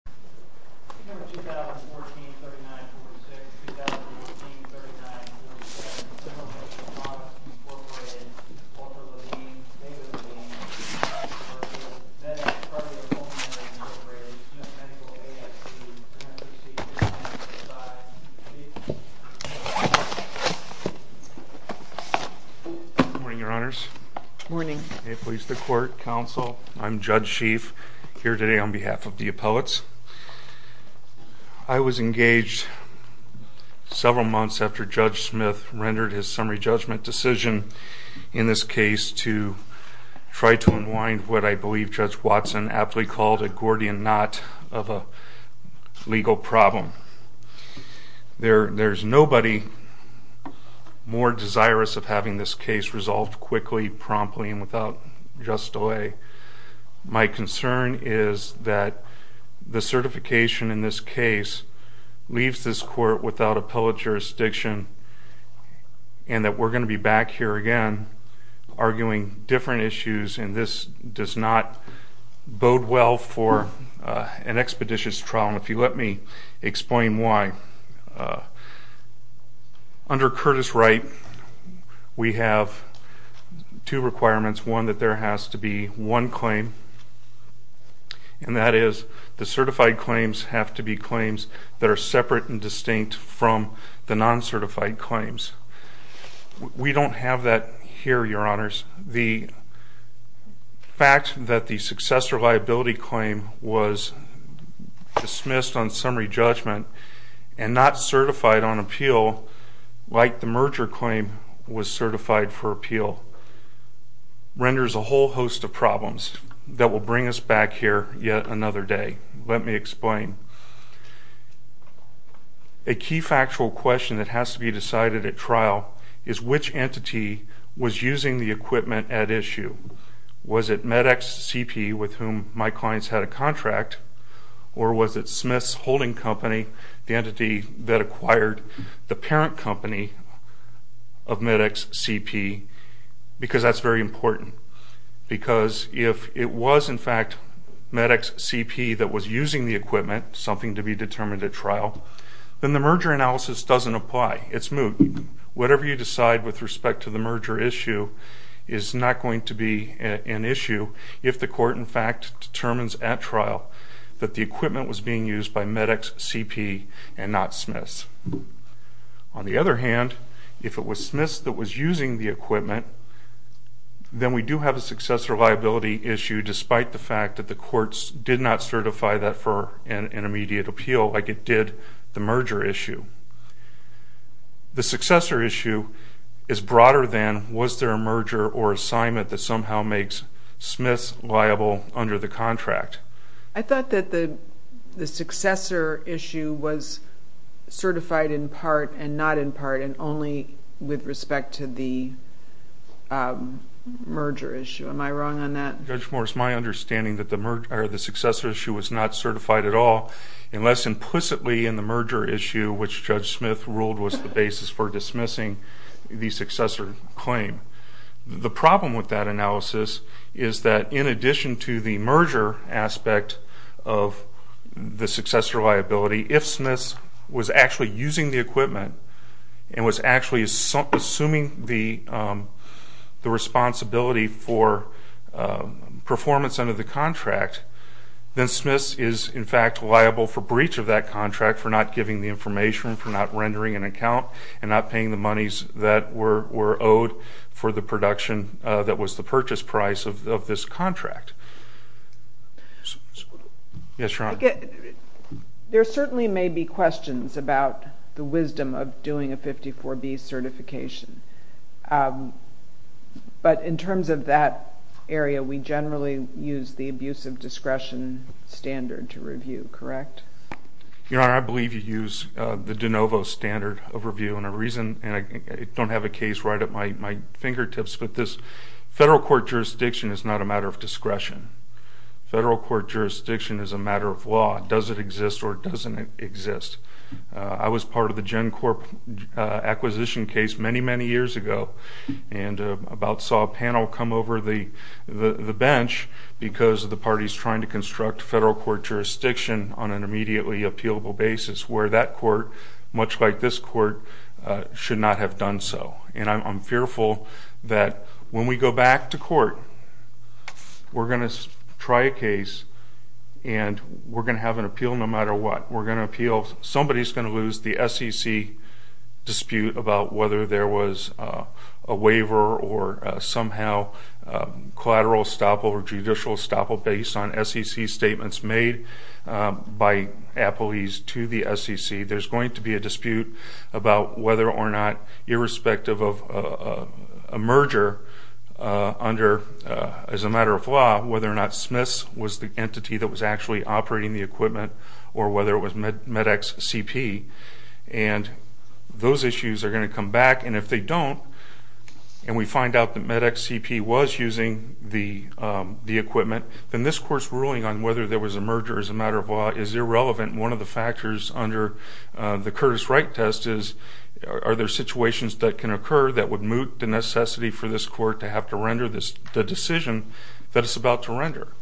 1439.6.2014.39.37. Inhalation Models Inc. Oprah Levine, David Levine, D.J. Turkle, Medex Cardio Pulmonary Inc. D.J. Turkle, AST, D.J. Turkle, F.C.T. D.J. Turkle, F.C.T. Good morning Your Honors. Good morning. May it please the Court, Counsel, I'm Judge Schief here today on behalf of the appellates. I was engaged several months after Judge Smith rendered his summary judgment decision in this case to try to unwind what I believe Judge Watson aptly called a Gordian Knot of a legal problem. There's nobody more desirous of having this case resolved quickly, promptly, and without just delay. My concern is that the certification in this case leaves this Court without appellate jurisdiction and that we're going to be back here again arguing different issues and this does not bode well for an expeditious trial and if you let me explain why. Under Curtis Wright we have two requirements. One, that there has to be one claim and that is the certified claims have to be claims that are separate and distinct from the non-certified claims. We don't have that here, Your Honors. The fact that the successor liability claim was dismissed on summary judgment and not certified on appeal like the merger claim was certified for appeal renders a whole host of problems that will bring us back here yet another day. Let me explain. A key factual question that has to be decided at trial is which entity was holding the company, the entity that acquired the parent company of MedEx-CP because that's very important. Because if it was in fact MedEx-CP that was using the equipment, something to be determined at trial, then the merger analysis doesn't apply. It's moot. Whatever you decide with respect to the merger issue is not going to be an issue if the court in fact determines at trial that the equipment was being used by MedEx-CP and not Smiths. On the other hand, if it was Smiths that was using the equipment, then we do have a successor liability issue despite the fact that the courts did not certify that for an immediate appeal like it did the merger issue. The successor issue is broader than was there a merger or assignment that somehow makes Smiths liable under the contract. I thought that the successor issue was certified in part and not in part and only with respect to the merger issue. Am I wrong on that? Judge Morris, my understanding is that the successor issue was not certified at all unless implicitly in the merger issue, which Judge Smith ruled was the basis for dismissing the successor claim. The problem with that analysis is that in addition to the merger aspect of the successor liability, if Smiths was actually using the equipment and was actually assuming the responsibility for that contract for not giving the information, for not rendering an account, and not paying the monies that were owed for the production that was the purchase price of this contract. Yes, Your Honor. There certainly may be questions about the wisdom of doing a 54B certification, but in terms of that area, we generally use the abuse of discretion standard to review, correct? Your Honor, I believe you use the de novo standard of review. I don't have a case right at my fingertips, but this federal court jurisdiction is not a matter of discretion. Federal court jurisdiction is a matter of law. Does it exist or doesn't it exist? I was part of the GenCorp acquisition case many, many years ago and about saw a panel come over the bench because of the parties trying to construct federal court jurisdiction on an immediately appealable basis, where that court, much like this court, should not have done so. I'm fearful that when we go back to court, we're going to try a case and we're going to have an appeal no matter what. Somebody's going to lose the SEC dispute about whether there was a waiver or somehow collateral estoppel or judicial estoppel based on SEC statements made by appellees to the SEC. There's going to be a dispute about whether or not, irrespective of a merger as a matter of law, whether or not Smith's was the entity that was actually operating the equipment or whether it was MedEx CP. Those issues are going to come back, and if they don't and we find out that MedEx CP was using the equipment, then this court's ruling on whether there was a merger as a matter of law is irrelevant. One of the factors under the Curtis Wright test is, are there situations that can occur that would moot the necessity for this court to have to render the decision that it's about to render?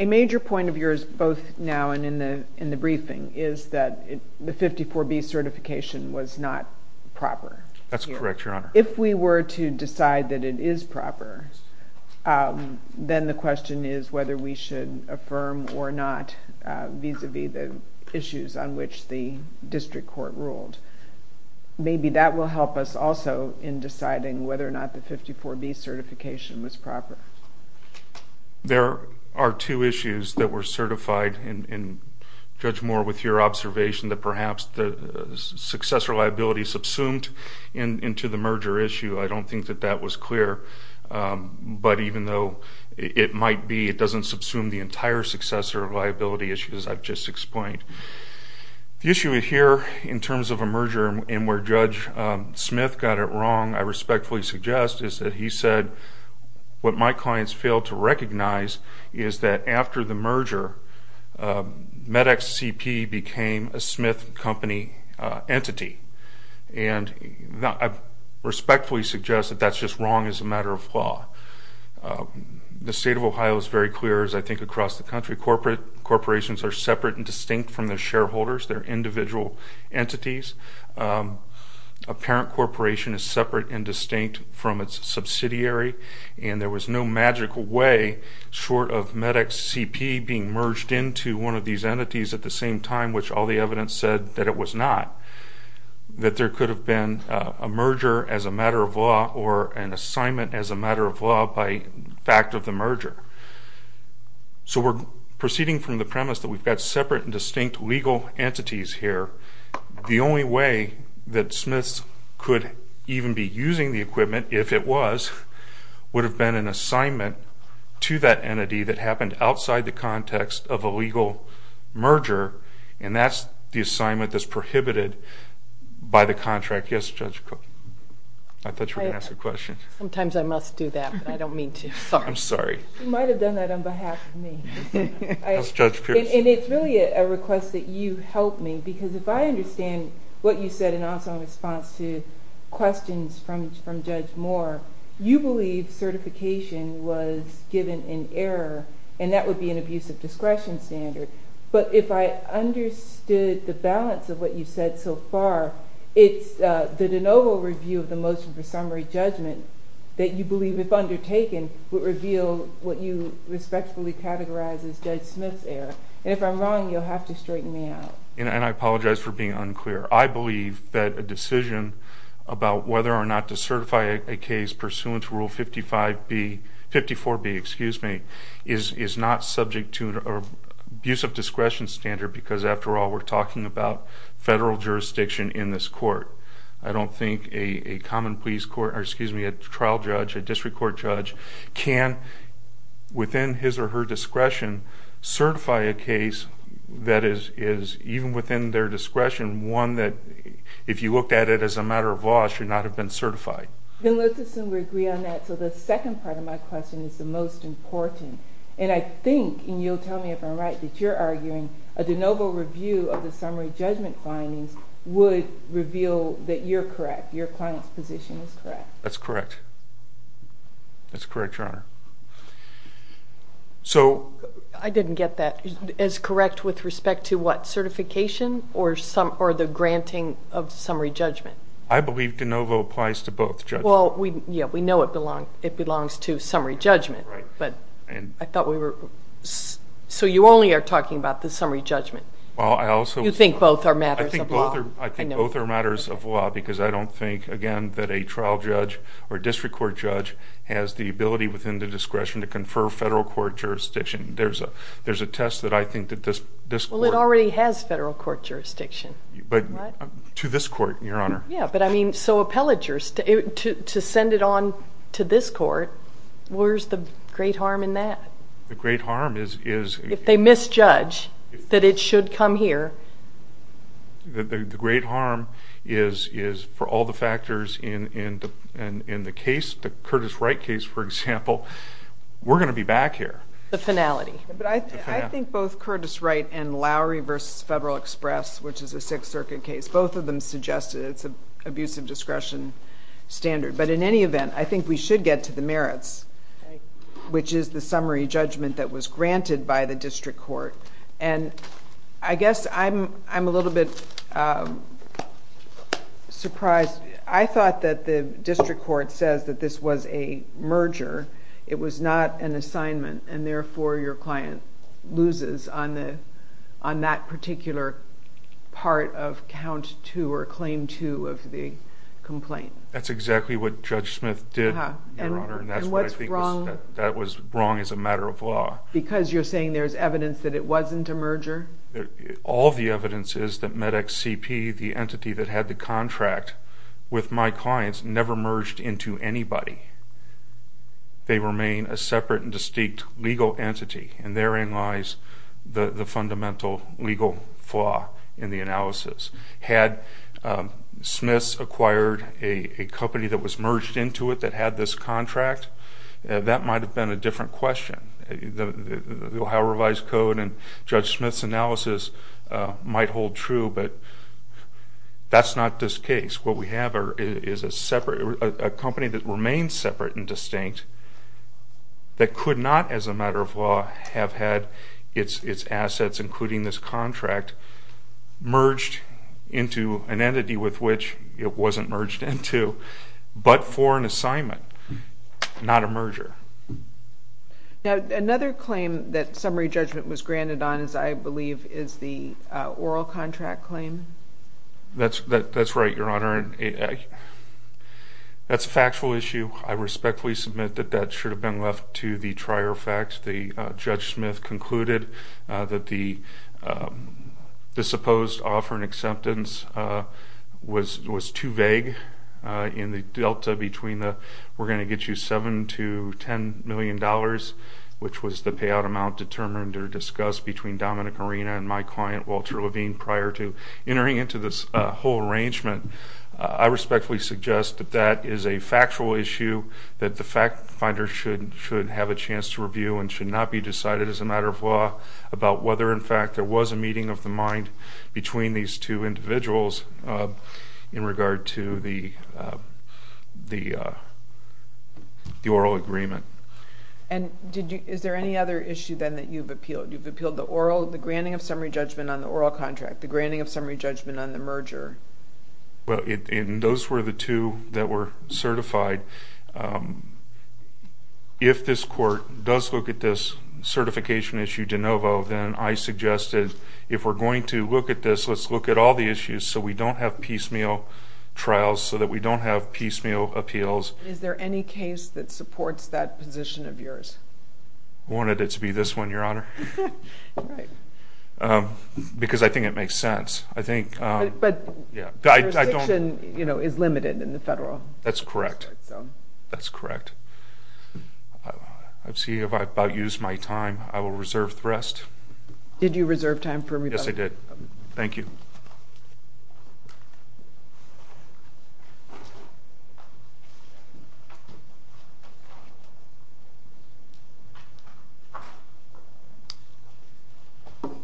A major point of yours, both now and in the briefing, is that the 54B certification was not proper. That's correct, Your Honor. If we were to decide that it is proper, then the question is whether we should affirm or not vis-a-vis the issues on which the district court ruled. Maybe that will help us also in deciding whether or not the 54B certification was proper. There are two issues that were certified, and Judge Moore, with your observation that perhaps the successor liability subsumed into the merger issue, I don't think that that was clear. But even though it might be, it doesn't subsume the entire successor liability issue as I've just explained. The issue here in terms of a merger and where Judge Smith got it wrong, I respectfully suggest, is that he said, what my clients failed to recognize is that after the merger, MedEx CP became a Smith Company entity. And I respectfully suggest that that's just wrong as a matter of law. The State of Ohio is very clear, as I think across the country, corporations are separate and distinct from their shareholders, their individual entities. A parent corporation is separate and distinct from its subsidiary, and there was no magical way short of MedEx CP being merged into one of these entities at the same time, which all the the merger. So we're proceeding from the premise that we've got separate and distinct legal entities here. The only way that Smiths could even be using the equipment, if it was, would have been an assignment to that entity that happened outside the context of a legal merger, and that's the assignment that's prohibited by the contract. Yes, Judge? I thought you were going to ask a question. Sometimes I must do that, but I don't mean to. I'm sorry. You might have done that on behalf of me. And it's really a request that you help me, because if I understand what you said in response to questions from Judge Moore, you believe certification was given in error, and that would be an abusive discretion standard. But if I understood the balance of what you said so far, it's the de novo review of the motion for summary judgment that you believe, if undertaken, would reveal what you respectfully categorize as Judge Smith's error. And if I'm wrong, you'll have to straighten me out. And I apologize for being unclear. I believe that a decision about whether or not to certify a case pursuant to Rule 54B is not subject to an abusive discretion standard, because after all, we're talking about federal jurisdiction in this court. I don't think a common pleas court, or excuse me, a trial judge, a district court judge, can, within his or her discretion, certify a case that is, even within their discretion, one that, if you looked at it as a matter of law, should not have been certified. And let's assume we agree on that. So the second part of my question is the most important. And I think, and you'll tell me if I'm right, that you're arguing a de novo review of the summary judgment findings would reveal that you're correct, your client's position is correct. That's correct. That's correct, Your Honor. I didn't get that. Is correct with respect to what? Certification or the granting of summary judgment? I believe de novo applies to both judgments. Well, yeah, we know it belongs to summary judgment. So you only are talking about the summary judgment. You think both are matters of law. I think both are matters of law, because I don't think, again, that a trial judge or district court judge has the ability, within their discretion, to confer federal court jurisdiction. There's a test that I think that this court... Well, it already has federal court jurisdiction. To this court, Your Honor. Yeah, but I mean, so appellatures, to send it on to this court, where's the great harm in that? The great harm is... If they misjudge that it should come here... The great harm is, for all the factors in the case, the Curtis Wright case, for example, we're going to be back here. The finality. I think both Curtis Wright and Lowry v. Federal Express, which is a Sixth Circuit case, both of them suggested it's an abuse of discretion standard. But in any event, I think we should get to the merits, which is the summary judgment that was surprised... I thought that the district court says that this was a merger. It was not an assignment, and therefore your client loses on that particular part of Count 2, or Claim 2, of the complaint. That's exactly what Judge Smith did, Your Honor, and that's what I think was wrong as a matter of law. Because you're saying there's evidence that it wasn't a merger? All the evidence is that MedExCP, the entity that had the contract with my clients, never merged into anybody. They remain a separate and distinct legal entity, and therein lies the fundamental legal flaw in the analysis. Had Smith acquired a company that was merged into it that had this contract, that might have been a different question. The Ohio Revised Code and Judge Smith's analysis might hold true, but that's not this case. What we have is a company that remains separate and distinct that could not, as a matter of law, have had its assets, including this contract, merged into an entity with which it wasn't merged into, but for an assignment, not a merger. Now, another claim that summary judgment was granted on, I believe, is the oral contract claim. That's right, Your Honor. That's a factual issue. I respectfully submit that that should have been left to the trier fact. Judge Smith concluded that the supposed offer and acceptance was too vague in the delta between the we're going to get you $7 to $10 million, which was the payout amount determined or discussed between Dominic Arena and my client, Walter Levine, prior to entering into this whole arrangement. I respectfully suggest that that is a factual issue, that the fact finder should have a chance to review and should not be decided, as a matter of law, about whether, in fact, there was a meeting of the mind between these two individuals in regard to the oral agreement. And is there any other issue, then, that you've appealed? You've appealed the granting of summary judgment on the oral contract, the granting of summary judgment on the merger. Well, those were the two that were certified. If this court does look at this certification issue de novo, then I suggested, if we're going to look at this, let's look at all the issues so we don't have piecemeal trials, so that we don't have piecemeal appeals. Is there any case that supports that position of yours? I wanted it to be this one, Your Honor. Because I think it makes sense. But the restriction is limited in the federal. That's correct. That's correct. I see I've about used my time. I will reserve the rest. Did you reserve time for me? Yes, I did. Thank you.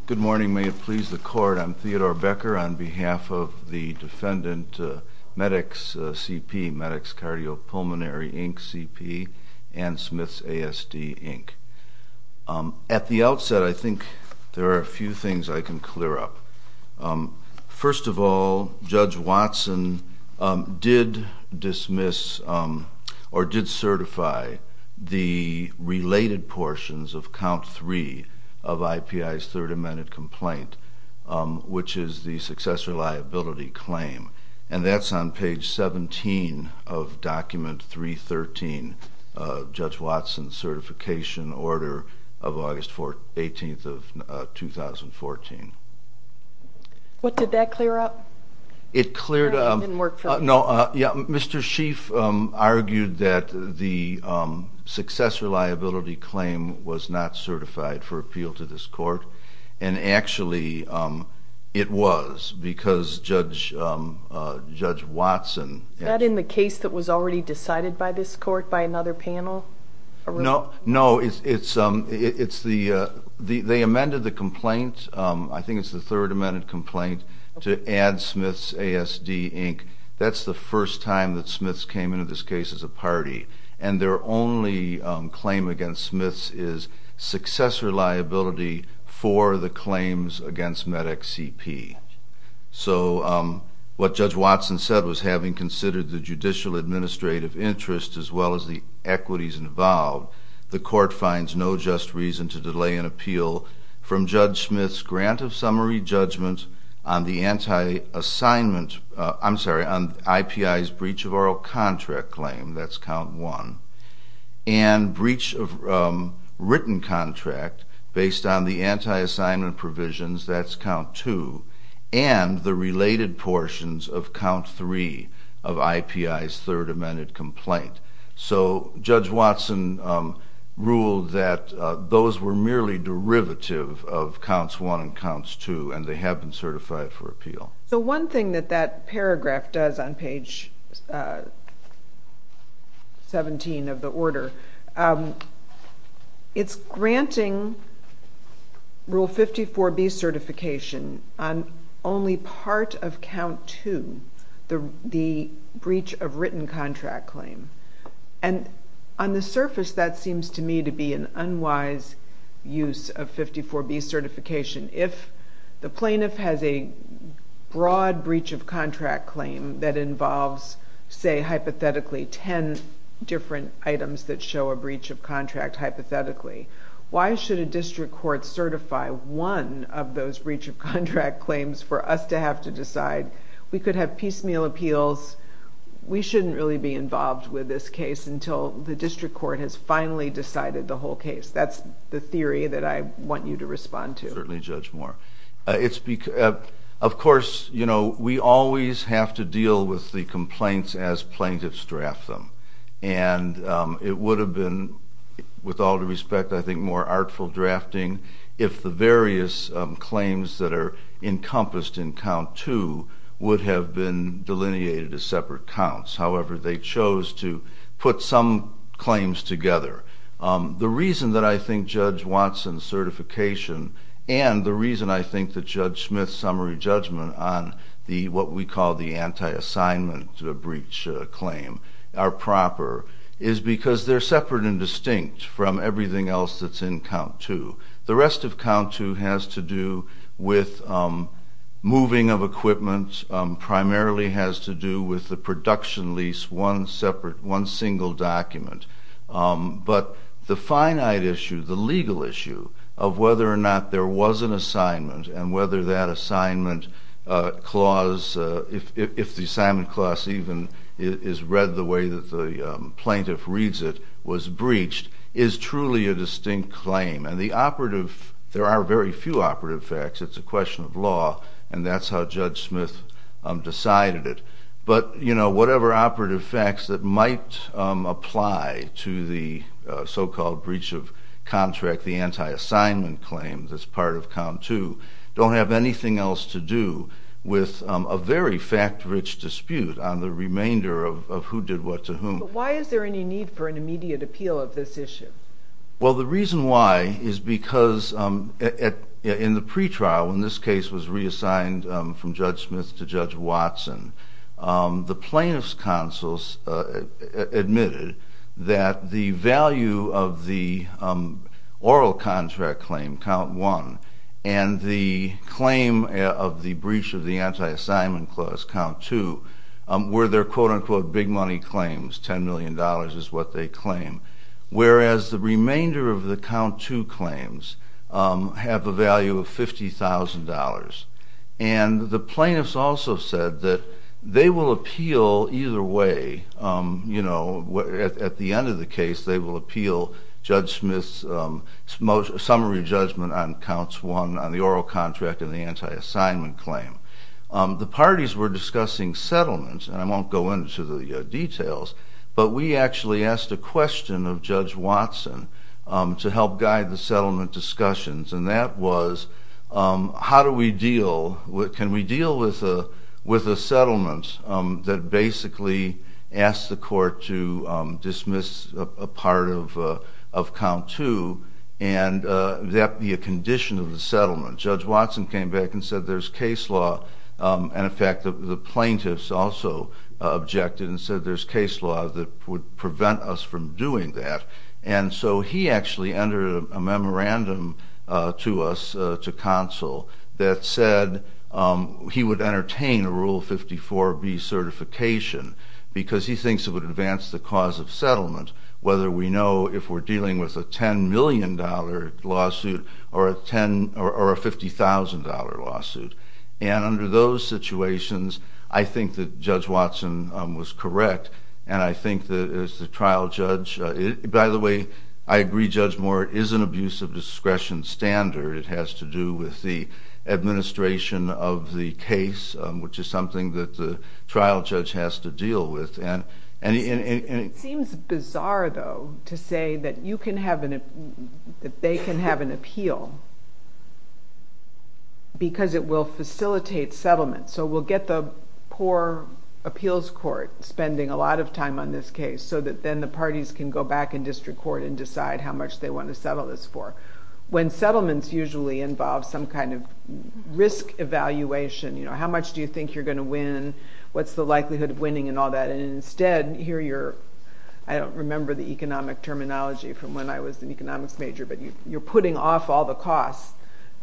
Good morning. May it please the Court, I'm Theodore Becker on behalf of the defendant, Medix CP, Medix Cardiopulmonary, Inc., CP, and Smith's ASD, Inc. At the outset, I think there are a few things I can clear up. First of all, Judge Watson did dismiss or did certify the related portions of count three of IPI's third amended complaint, which is the successor liability claim. And that's on page 17 of document 313 of Judge Watson's certification order of August 18th of 2014. What did that clear up? It cleared up... No, Mr. Schieff argued that the successor liability claim was not certified for appeal to this Court. And actually, it was because Judge Watson... Is that in the case that was already decided by this Court by another panel? No, it's the... Smith's ASD, Inc., that's the first time that Smith's came into this case as a party. And their only claim against Smith's is successor liability for the claims against Medix CP. So, what Judge Watson said was, having considered the judicial administrative interest as well as the equities involved, the Court finds no just reason to delay an appeal from Judge Smith's grant of summary judgment on the anti-assignment... I'm sorry, on IPI's breach of oral contract claim, that's count one, and breach of written contract based on the anti-assignment provisions, that's count two, and the related portions of count three of IPI's third amended complaint. So, Judge Watson ruled that those were merely derivative of counts one and counts two, and they have been certified for appeal. So, one thing that that paragraph does on page 17 of the order, it's granting Rule 54B certification on only part of count two, the breach of written contract claim. And on the surface, that seems to me to be an unwise use of 54B certification. If the plaintiff has a broad breach of contract claim that involves, say, hypothetically, ten different items that show a breach of contract hypothetically, why should a district court certify one of those breach of contract claims for us to have to decide? We could have piecemeal appeals. We shouldn't really be involved with this case until the district court has finally decided the whole case. That's the theory that I want you to respond to. Certainly, Judge Moore. Of course, we always have to deal with the complaints as plaintiffs draft them. And it would have been, with all due respect, I think, more artful drafting if the various claims that are encompassed in count two would have been delineated as separate counts. However, they chose to put some claims together. The reason that I think Judge Watson's certification and the reason I think that Judge Smith's summary judgment on what we call the anti-assignment breach claim are proper is because they're separate and distinct from everything else that's in count two. The rest of count two has to do with moving of equipment, primarily has to do with the production lease, one single document. But the finite issue, the legal issue of whether or not there was an assignment and whether that assignment clause, if the assignment clause even is read the way that the plaintiff reads it, was breached, is truly a distinct claim. And the operative, there are very few operative facts. It's a question of law, and that's how Judge Smith decided it. But whatever operative facts that might apply to the so-called breach of contract, the anti-assignment claim that's part of count two, don't have anything else to do with a very fact-rich dispute on the remainder of who did what to whom. But why is there any need for an immediate appeal of this issue? Well, the reason why is because in the pretrial, when this case was reassigned from Judge Smith to Judge Watson, the plaintiff's counsels admitted that the value of the oral contract claim, count one, and the claim of the breach of the anti-assignment clause, count two, were their quote-unquote big money claims, $10 million is what they claim, whereas the remainder of the count two claims have a value of $50,000. And the plaintiffs also said that they will appeal either way. At the end of the case, they will appeal Judge Smith's summary judgment on counts one on the oral contract and the anti-assignment claim. The parties were discussing settlements, and I won't go into the details, but we actually asked a question of Judge Watson to help guide the settlement discussions, and that was, how do we deal, can we deal with a settlement that basically asks the court to dismiss a part of count two and that be a condition of the settlement? Judge Watson came back and said there's case law, and in fact the plaintiffs also objected and said there's case law that would prevent us from doing that. And so he actually entered a memorandum to us, to counsel, that said he would entertain a Rule 54B certification because he thinks it would advance the cause of settlement, whether we know if we're dealing with a $10 million lawsuit or a $50,000 lawsuit. And under those situations, I think that Judge Watson was correct, and I think that as the trial judge, by the way, I agree Judge Moore, it is an abuse of discretion standard. It has to do with the administration of the case, which is something that the trial judge has to deal with. It seems bizarre, though, to say that they can have an appeal because it will facilitate settlement. So we'll get the poor appeals court spending a lot of time on this case so that then the parties can go back in district court and decide how much they want to settle this for. When settlements usually involve some kind of risk evaluation, how much do you think you're going to win, what's the likelihood of winning and all that, and instead, here you're, I don't remember the economic terminology from when I was an economics major, but you're putting off all the costs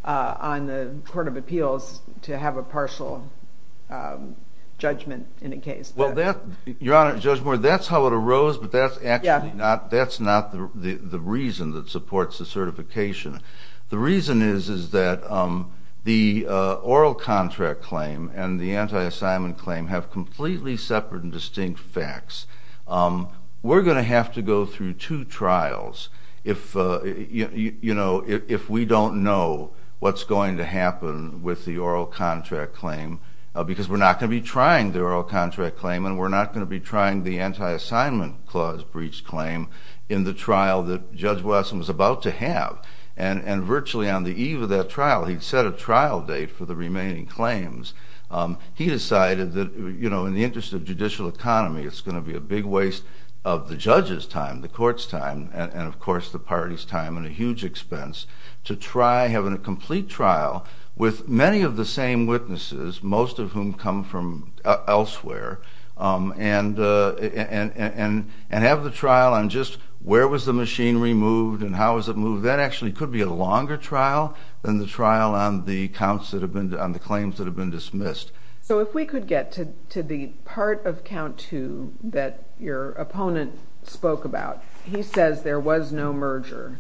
on the Court of Appeals to have a partial judgment in a case. Well, Your Honor, Judge Moore, that's how it arose, but that's actually not the reason that supports the certification. The reason is that the oral contract claim and the anti-assignment claim have completely separate and distinct facts. We're going to have to go through two trials if we don't know what's going to happen with the oral contract claim, because we're not going to be trying the oral contract claim and we're not going to be trying the anti-assignment clause breach claim in the trial that Judge Wesson was about to have. And virtually on the eve of that trial, he'd set a trial date for the remaining claims. He decided that in the interest of judicial economy, it's going to be a big waste of the judge's time, the court's time, and of course the party's time and a huge expense to try having a complete trial with many of the same witnesses, most of whom come from elsewhere, and have the trial on just where was the machinery moved and how was it moved. That actually could be a longer trial than the trial on the claims that have been dismissed. So if we could get to the part of count two that your opponent spoke about. He says there was no merger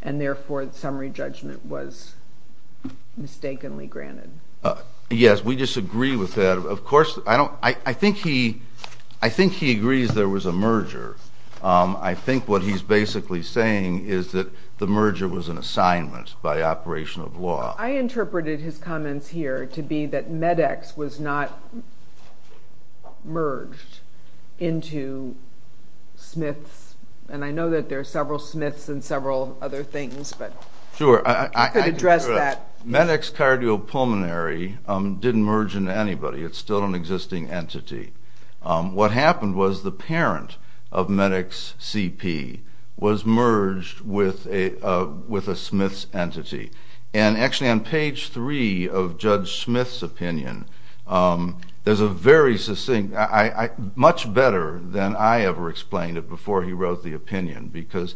and therefore the summary judgment was mistakenly granted. Yes, we disagree with that. Of course, I think he agrees there was a merger. I think what he's basically saying is that the merger was an assignment by operation of law. I interpreted his comments here to be that MedEx was not merged into Smiths, and I know that there are several Smiths and several other things, but you could address that. MedEx cardiopulmonary didn't merge into anybody. It's still an existing entity. What happened was the parent of MedEx CP was merged with a Smiths entity. And actually on page three of Judge Smith's opinion, there's a very succinct, much better than I ever explained it before he wrote the opinion, because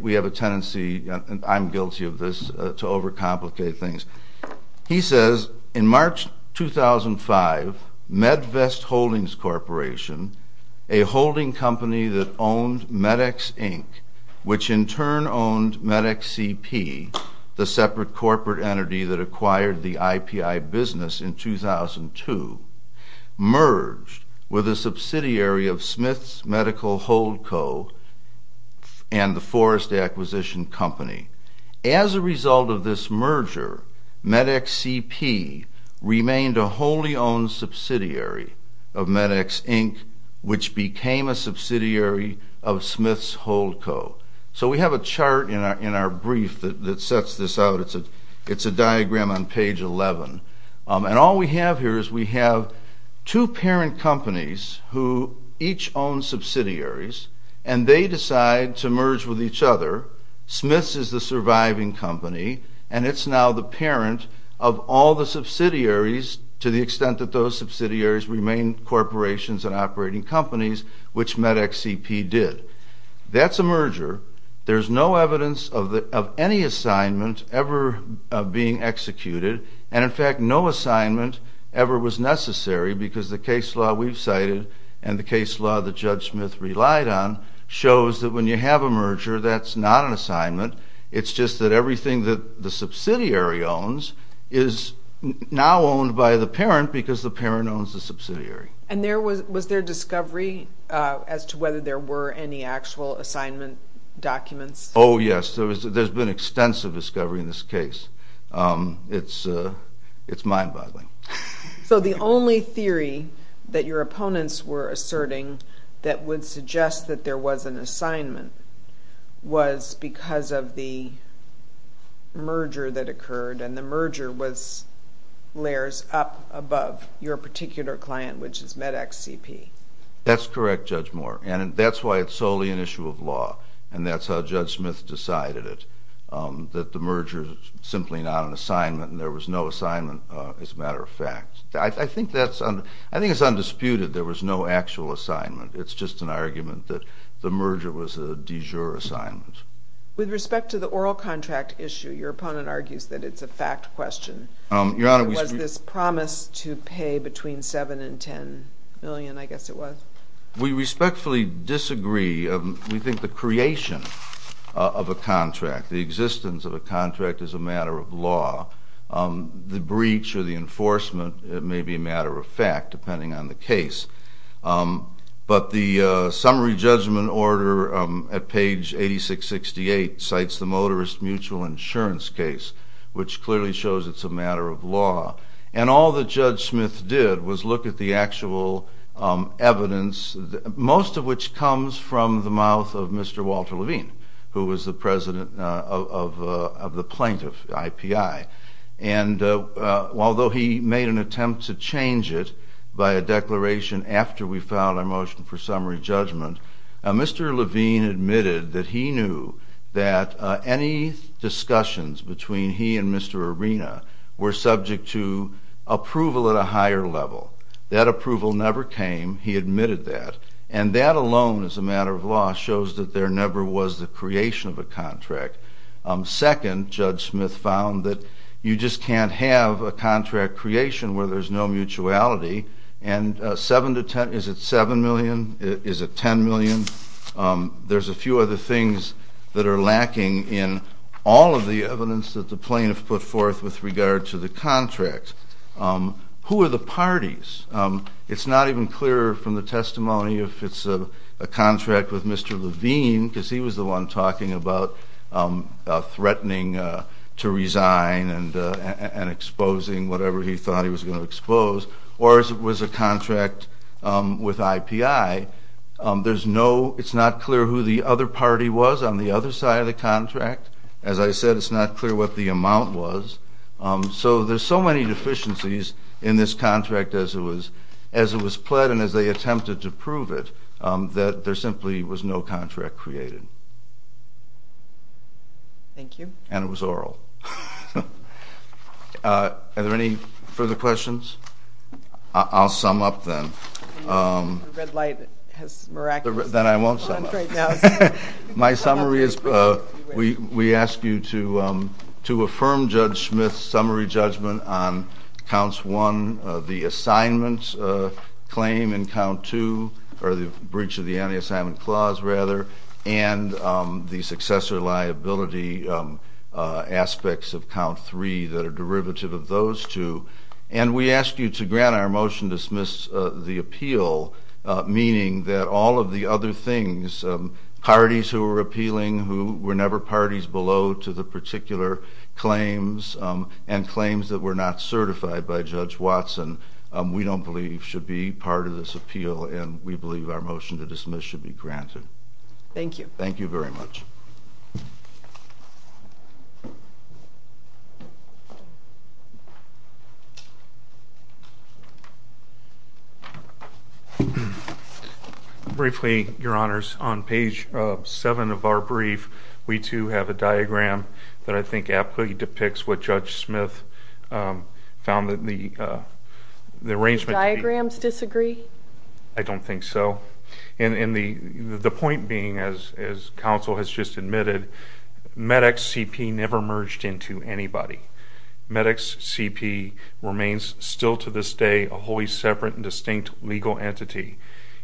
we have a tendency, and I'm guilty of this, to overcomplicate things. He says in March 2005, MedVest Holdings Corporation, a holding company that owned MedEx Inc., which in turn owned MedEx CP, the separate corporate entity that acquired the subsidiary of Smiths Medical Holdco and the Forest Acquisition Company. As a result of this merger, MedEx CP remained a wholly owned subsidiary of MedEx Inc., which became a subsidiary of Smiths Holdco. So we have a chart in our brief that sets this out. It's a diagram on page 11. And all we have here is we have two parent companies who each own subsidiaries, and they decide to merge with each other. Smiths is the surviving company, and it's now the parent of all the subsidiaries, to the extent that those subsidiaries remain corporations and operating companies, which MedEx CP did. That's a merger. There's no evidence of any assignment ever being executed. And in fact, no assignment ever was necessary because the case law we've cited and the case law that Judge Smith relied on shows that when you have a merger, that's not an assignment. It's just that everything that the subsidiary owns is now owned by the parent because the parent owns the subsidiary. And was there discovery as to whether there were any actual assignment documents? Oh, yes. There's been extensive discovery in this case. It's mind-boggling. So the only theory that your opponents were asserting that would suggest that there was an assignment was because of the merger that occurred, and the merger was layers up above your particular client, which is MedEx CP. That's correct, Judge Moore. And that's why it's solely an issue of law, and that's how Judge Smith decided it, that the merger is simply not an assignment, and there was no assignment as a matter of fact. I think it's undisputed there was no actual assignment. It's just an argument that the merger was a de jure assignment. With respect to the oral contract issue, your opponent argues that it's a fact question. Was this promise to pay between $7 and $10 million, I guess it was? We respectfully disagree. We think the creation of a contract, the existence of a contract, is a matter of law. The breach or the enforcement may be a matter of fact, depending on the case. But the mutual insurance case, which clearly shows it's a matter of law. And all that Judge Smith did was look at the actual evidence, most of which comes from the mouth of Mr. Walter Levine, who was the president of the plaintiff, IPI. And although he made an attempt to change it by a declaration after we filed our motion for summary judgment, Mr. Levine admitted that he knew that any discussions between he and Mr. Arena were subject to approval at a higher level. That approval never came. He admitted that. And that alone as a matter of law shows that there never was the creation of a contract. Second, Judge Smith found that you just can't have a contract creation where there's no testimonial. There's a few other things that are lacking in all of the evidence that the plaintiff put forth with regard to the contract. Who are the parties? It's not even clear from the testimony if it's a contract with Mr. Levine, because he was the one talking about threatening to resign and exposing whatever he thought he was going to expose. Or if it was a contract with IPI, it's not clear who the other party was on the other side of the contract. As I said, it's not clear what the amount was. So there's so many deficiencies in this contract as it was pled and as they attempted to prove it, that there simply was no contract created. Thank you. And it was oral. Are there any further questions? I'll sum up then. The red light has miraculously gone off. Then I won't sum up. My summary is we ask you to affirm Judge Smith's summary judgment on counts 1, the assignment claim in count 2, or the breach of the anti-assignment clause rather, and the successor liability aspects of count 3 that are derivative of those two. And we ask you to grant our motion to dismiss the appeal, meaning that all of the other things, parties who were appealing who were never parties below to the particular claims, and claims that were not certified by Judge Watson, we don't believe should be part of this appeal, and we believe our motion to dismiss the appeal should be granted. Thank you. Briefly, Your Honors, on page 7 of our brief, we too have a diagram that I think aptly depicts what Judge Smith found in the arrangement. Do the diagrams disagree? I don't think so. The point being, as counsel has just admitted, Medex CP never merged into anybody. Medex CP remains still to this day a wholly separate and distinct legal entity.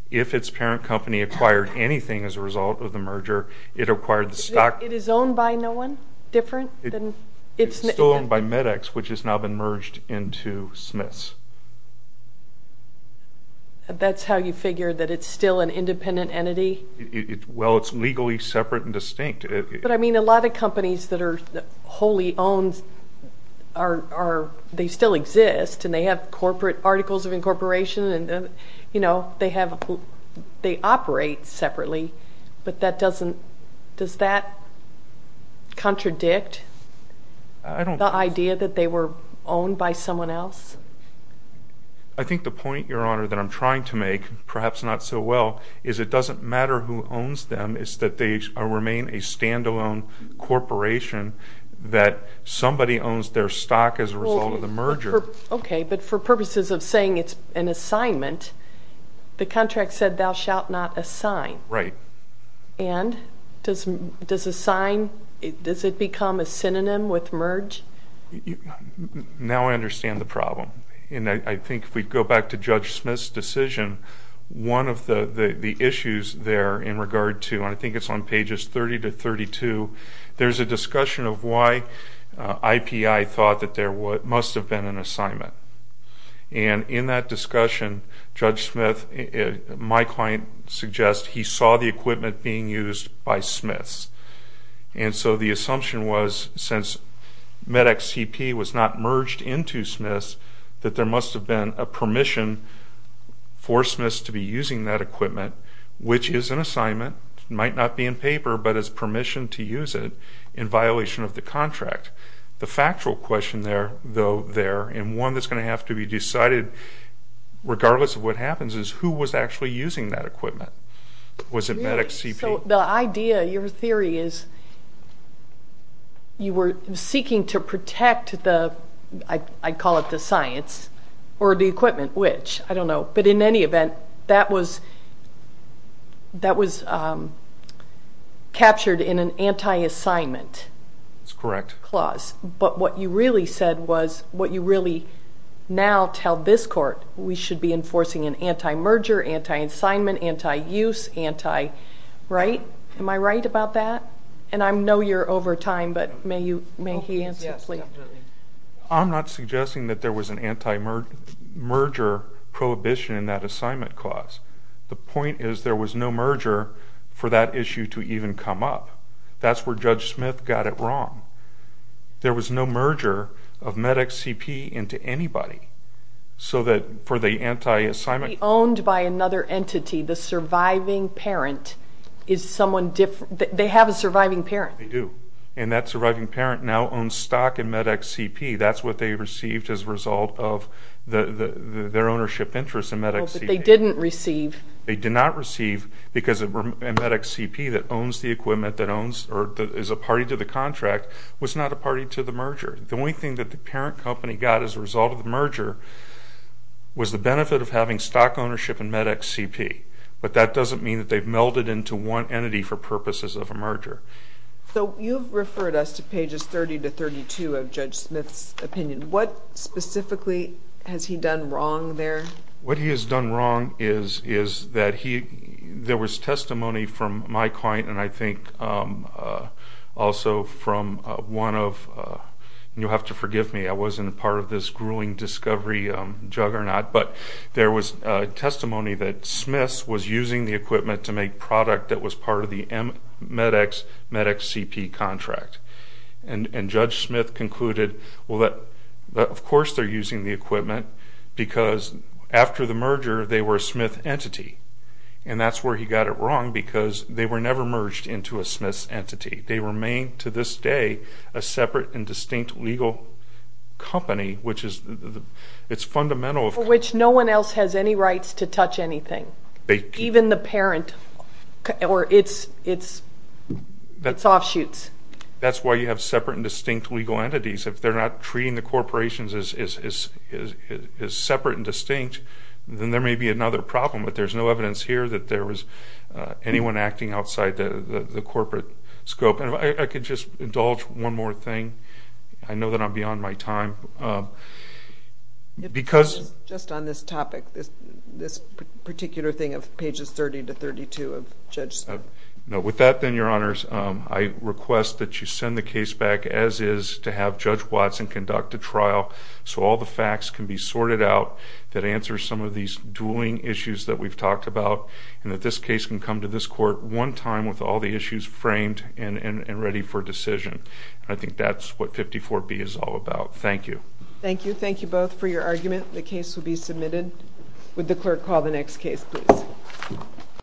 If its parent company acquired anything as a result of the merger, it acquired the stock... It is owned by no one different than... It's still owned by Medex, which has now been merged into Smith's. That's how you figure that it's still an independent entity? Well, it's legally separate and distinct. But I mean, a lot of companies that are wholly owned, they still exist, and they have corporate articles of incorporation, and they operate separately, but does that mean they're owned by someone else? I think the point, Your Honor, that I'm trying to make, perhaps not so well, is it doesn't matter who owns them, it's that they remain a stand-alone corporation, that somebody owns their stock as a result of the merger. Okay, but for purposes of saying it's an assignment, the contract said thou shalt not assign. Right. And does assign, does it become a synonym with merge? Now I understand the problem. And I think if we go back to Judge Smith's decision, one of the issues there in regard to, and I think it's on pages 30 to 32, there's a discussion of why IPI thought that there must have been an assignment. And in that discussion, Judge Smith, my client, suggests he saw the equipment being used by Smiths. And so the assumption was, since MedEx CP was not merged into Smiths, that there must have been a permission for Smiths to be using that equipment, which is an assignment, might not be in paper, but is permission to use it in violation of the contract. The factual question there, and one that's going to have to be decided, regardless of what happens, is who was actually using that equipment? Was it MedEx CP? So the idea, your theory is you were seeking to protect the, I call it the science, or the equipment, which, I don't know. But in any event, that was captured in an anti-merger, anti-assignment, anti-use, anti-right? Am I right about that? And I know you're over time, but may he answer, please? I'm not suggesting that there was an anti-merger prohibition in that assignment clause. The point is there was no merger for that issue to even come up. That's where Judge Smith got it wrong. There was no merger of MedEx CP into anybody, so that for the anti-assignment... It could be owned by another entity. The surviving parent is someone different. They have a surviving parent. They do. And that surviving parent now owns stock in MedEx CP. That's what they received as a result of their ownership interest in MedEx CP. They did not receive because MedEx CP that owns the equipment that is a party to the contract was not a party to the merger. The only thing that the parent company got as a result of the merger was the benefit of having stock ownership in MedEx CP. But that doesn't mean that they've melded into one entity for purposes of a merger. So you've referred us to pages 30 to 32 of Judge Smith's opinion. What specifically has he done wrong there? What he has done wrong is that there was testimony from my client and I think also from one of... You'll have to forgive me. I wasn't a part of this grueling discovery juggernaut, but there was testimony that Smith's was using the equipment to make product that was part of the MedEx CP contract. And Judge Smith concluded, well of course they're using the equipment because after the merger they were a Smith entity. And that's where he got it wrong because they were never merged into a Smith's entity. They remain to this day a separate and distinct legal company which is fundamental... For which no one else has any rights to touch anything. Even the parent or its offshoots. That's why you have separate and distinct legal entities. If they're not treating the corporations as separate and distinct, then there may be another problem. But there's no evidence here that there was anyone acting outside the corporate scope. And if I could just indulge one more thing. I know that I'm beyond my time. Just on this topic, this particular thing of pages 30 to 32 of Judge Smith. No, with that then your honors, I request that you send the case back as is to have Judge Watson conduct a trial so all the facts can be sorted out that answer some of these dueling issues that we've talked about. And that this case can come to this court one time with all the issues framed and ready for trial. Thank you. Thank you both for your argument. The case will be submitted. Would the clerk call the next case please?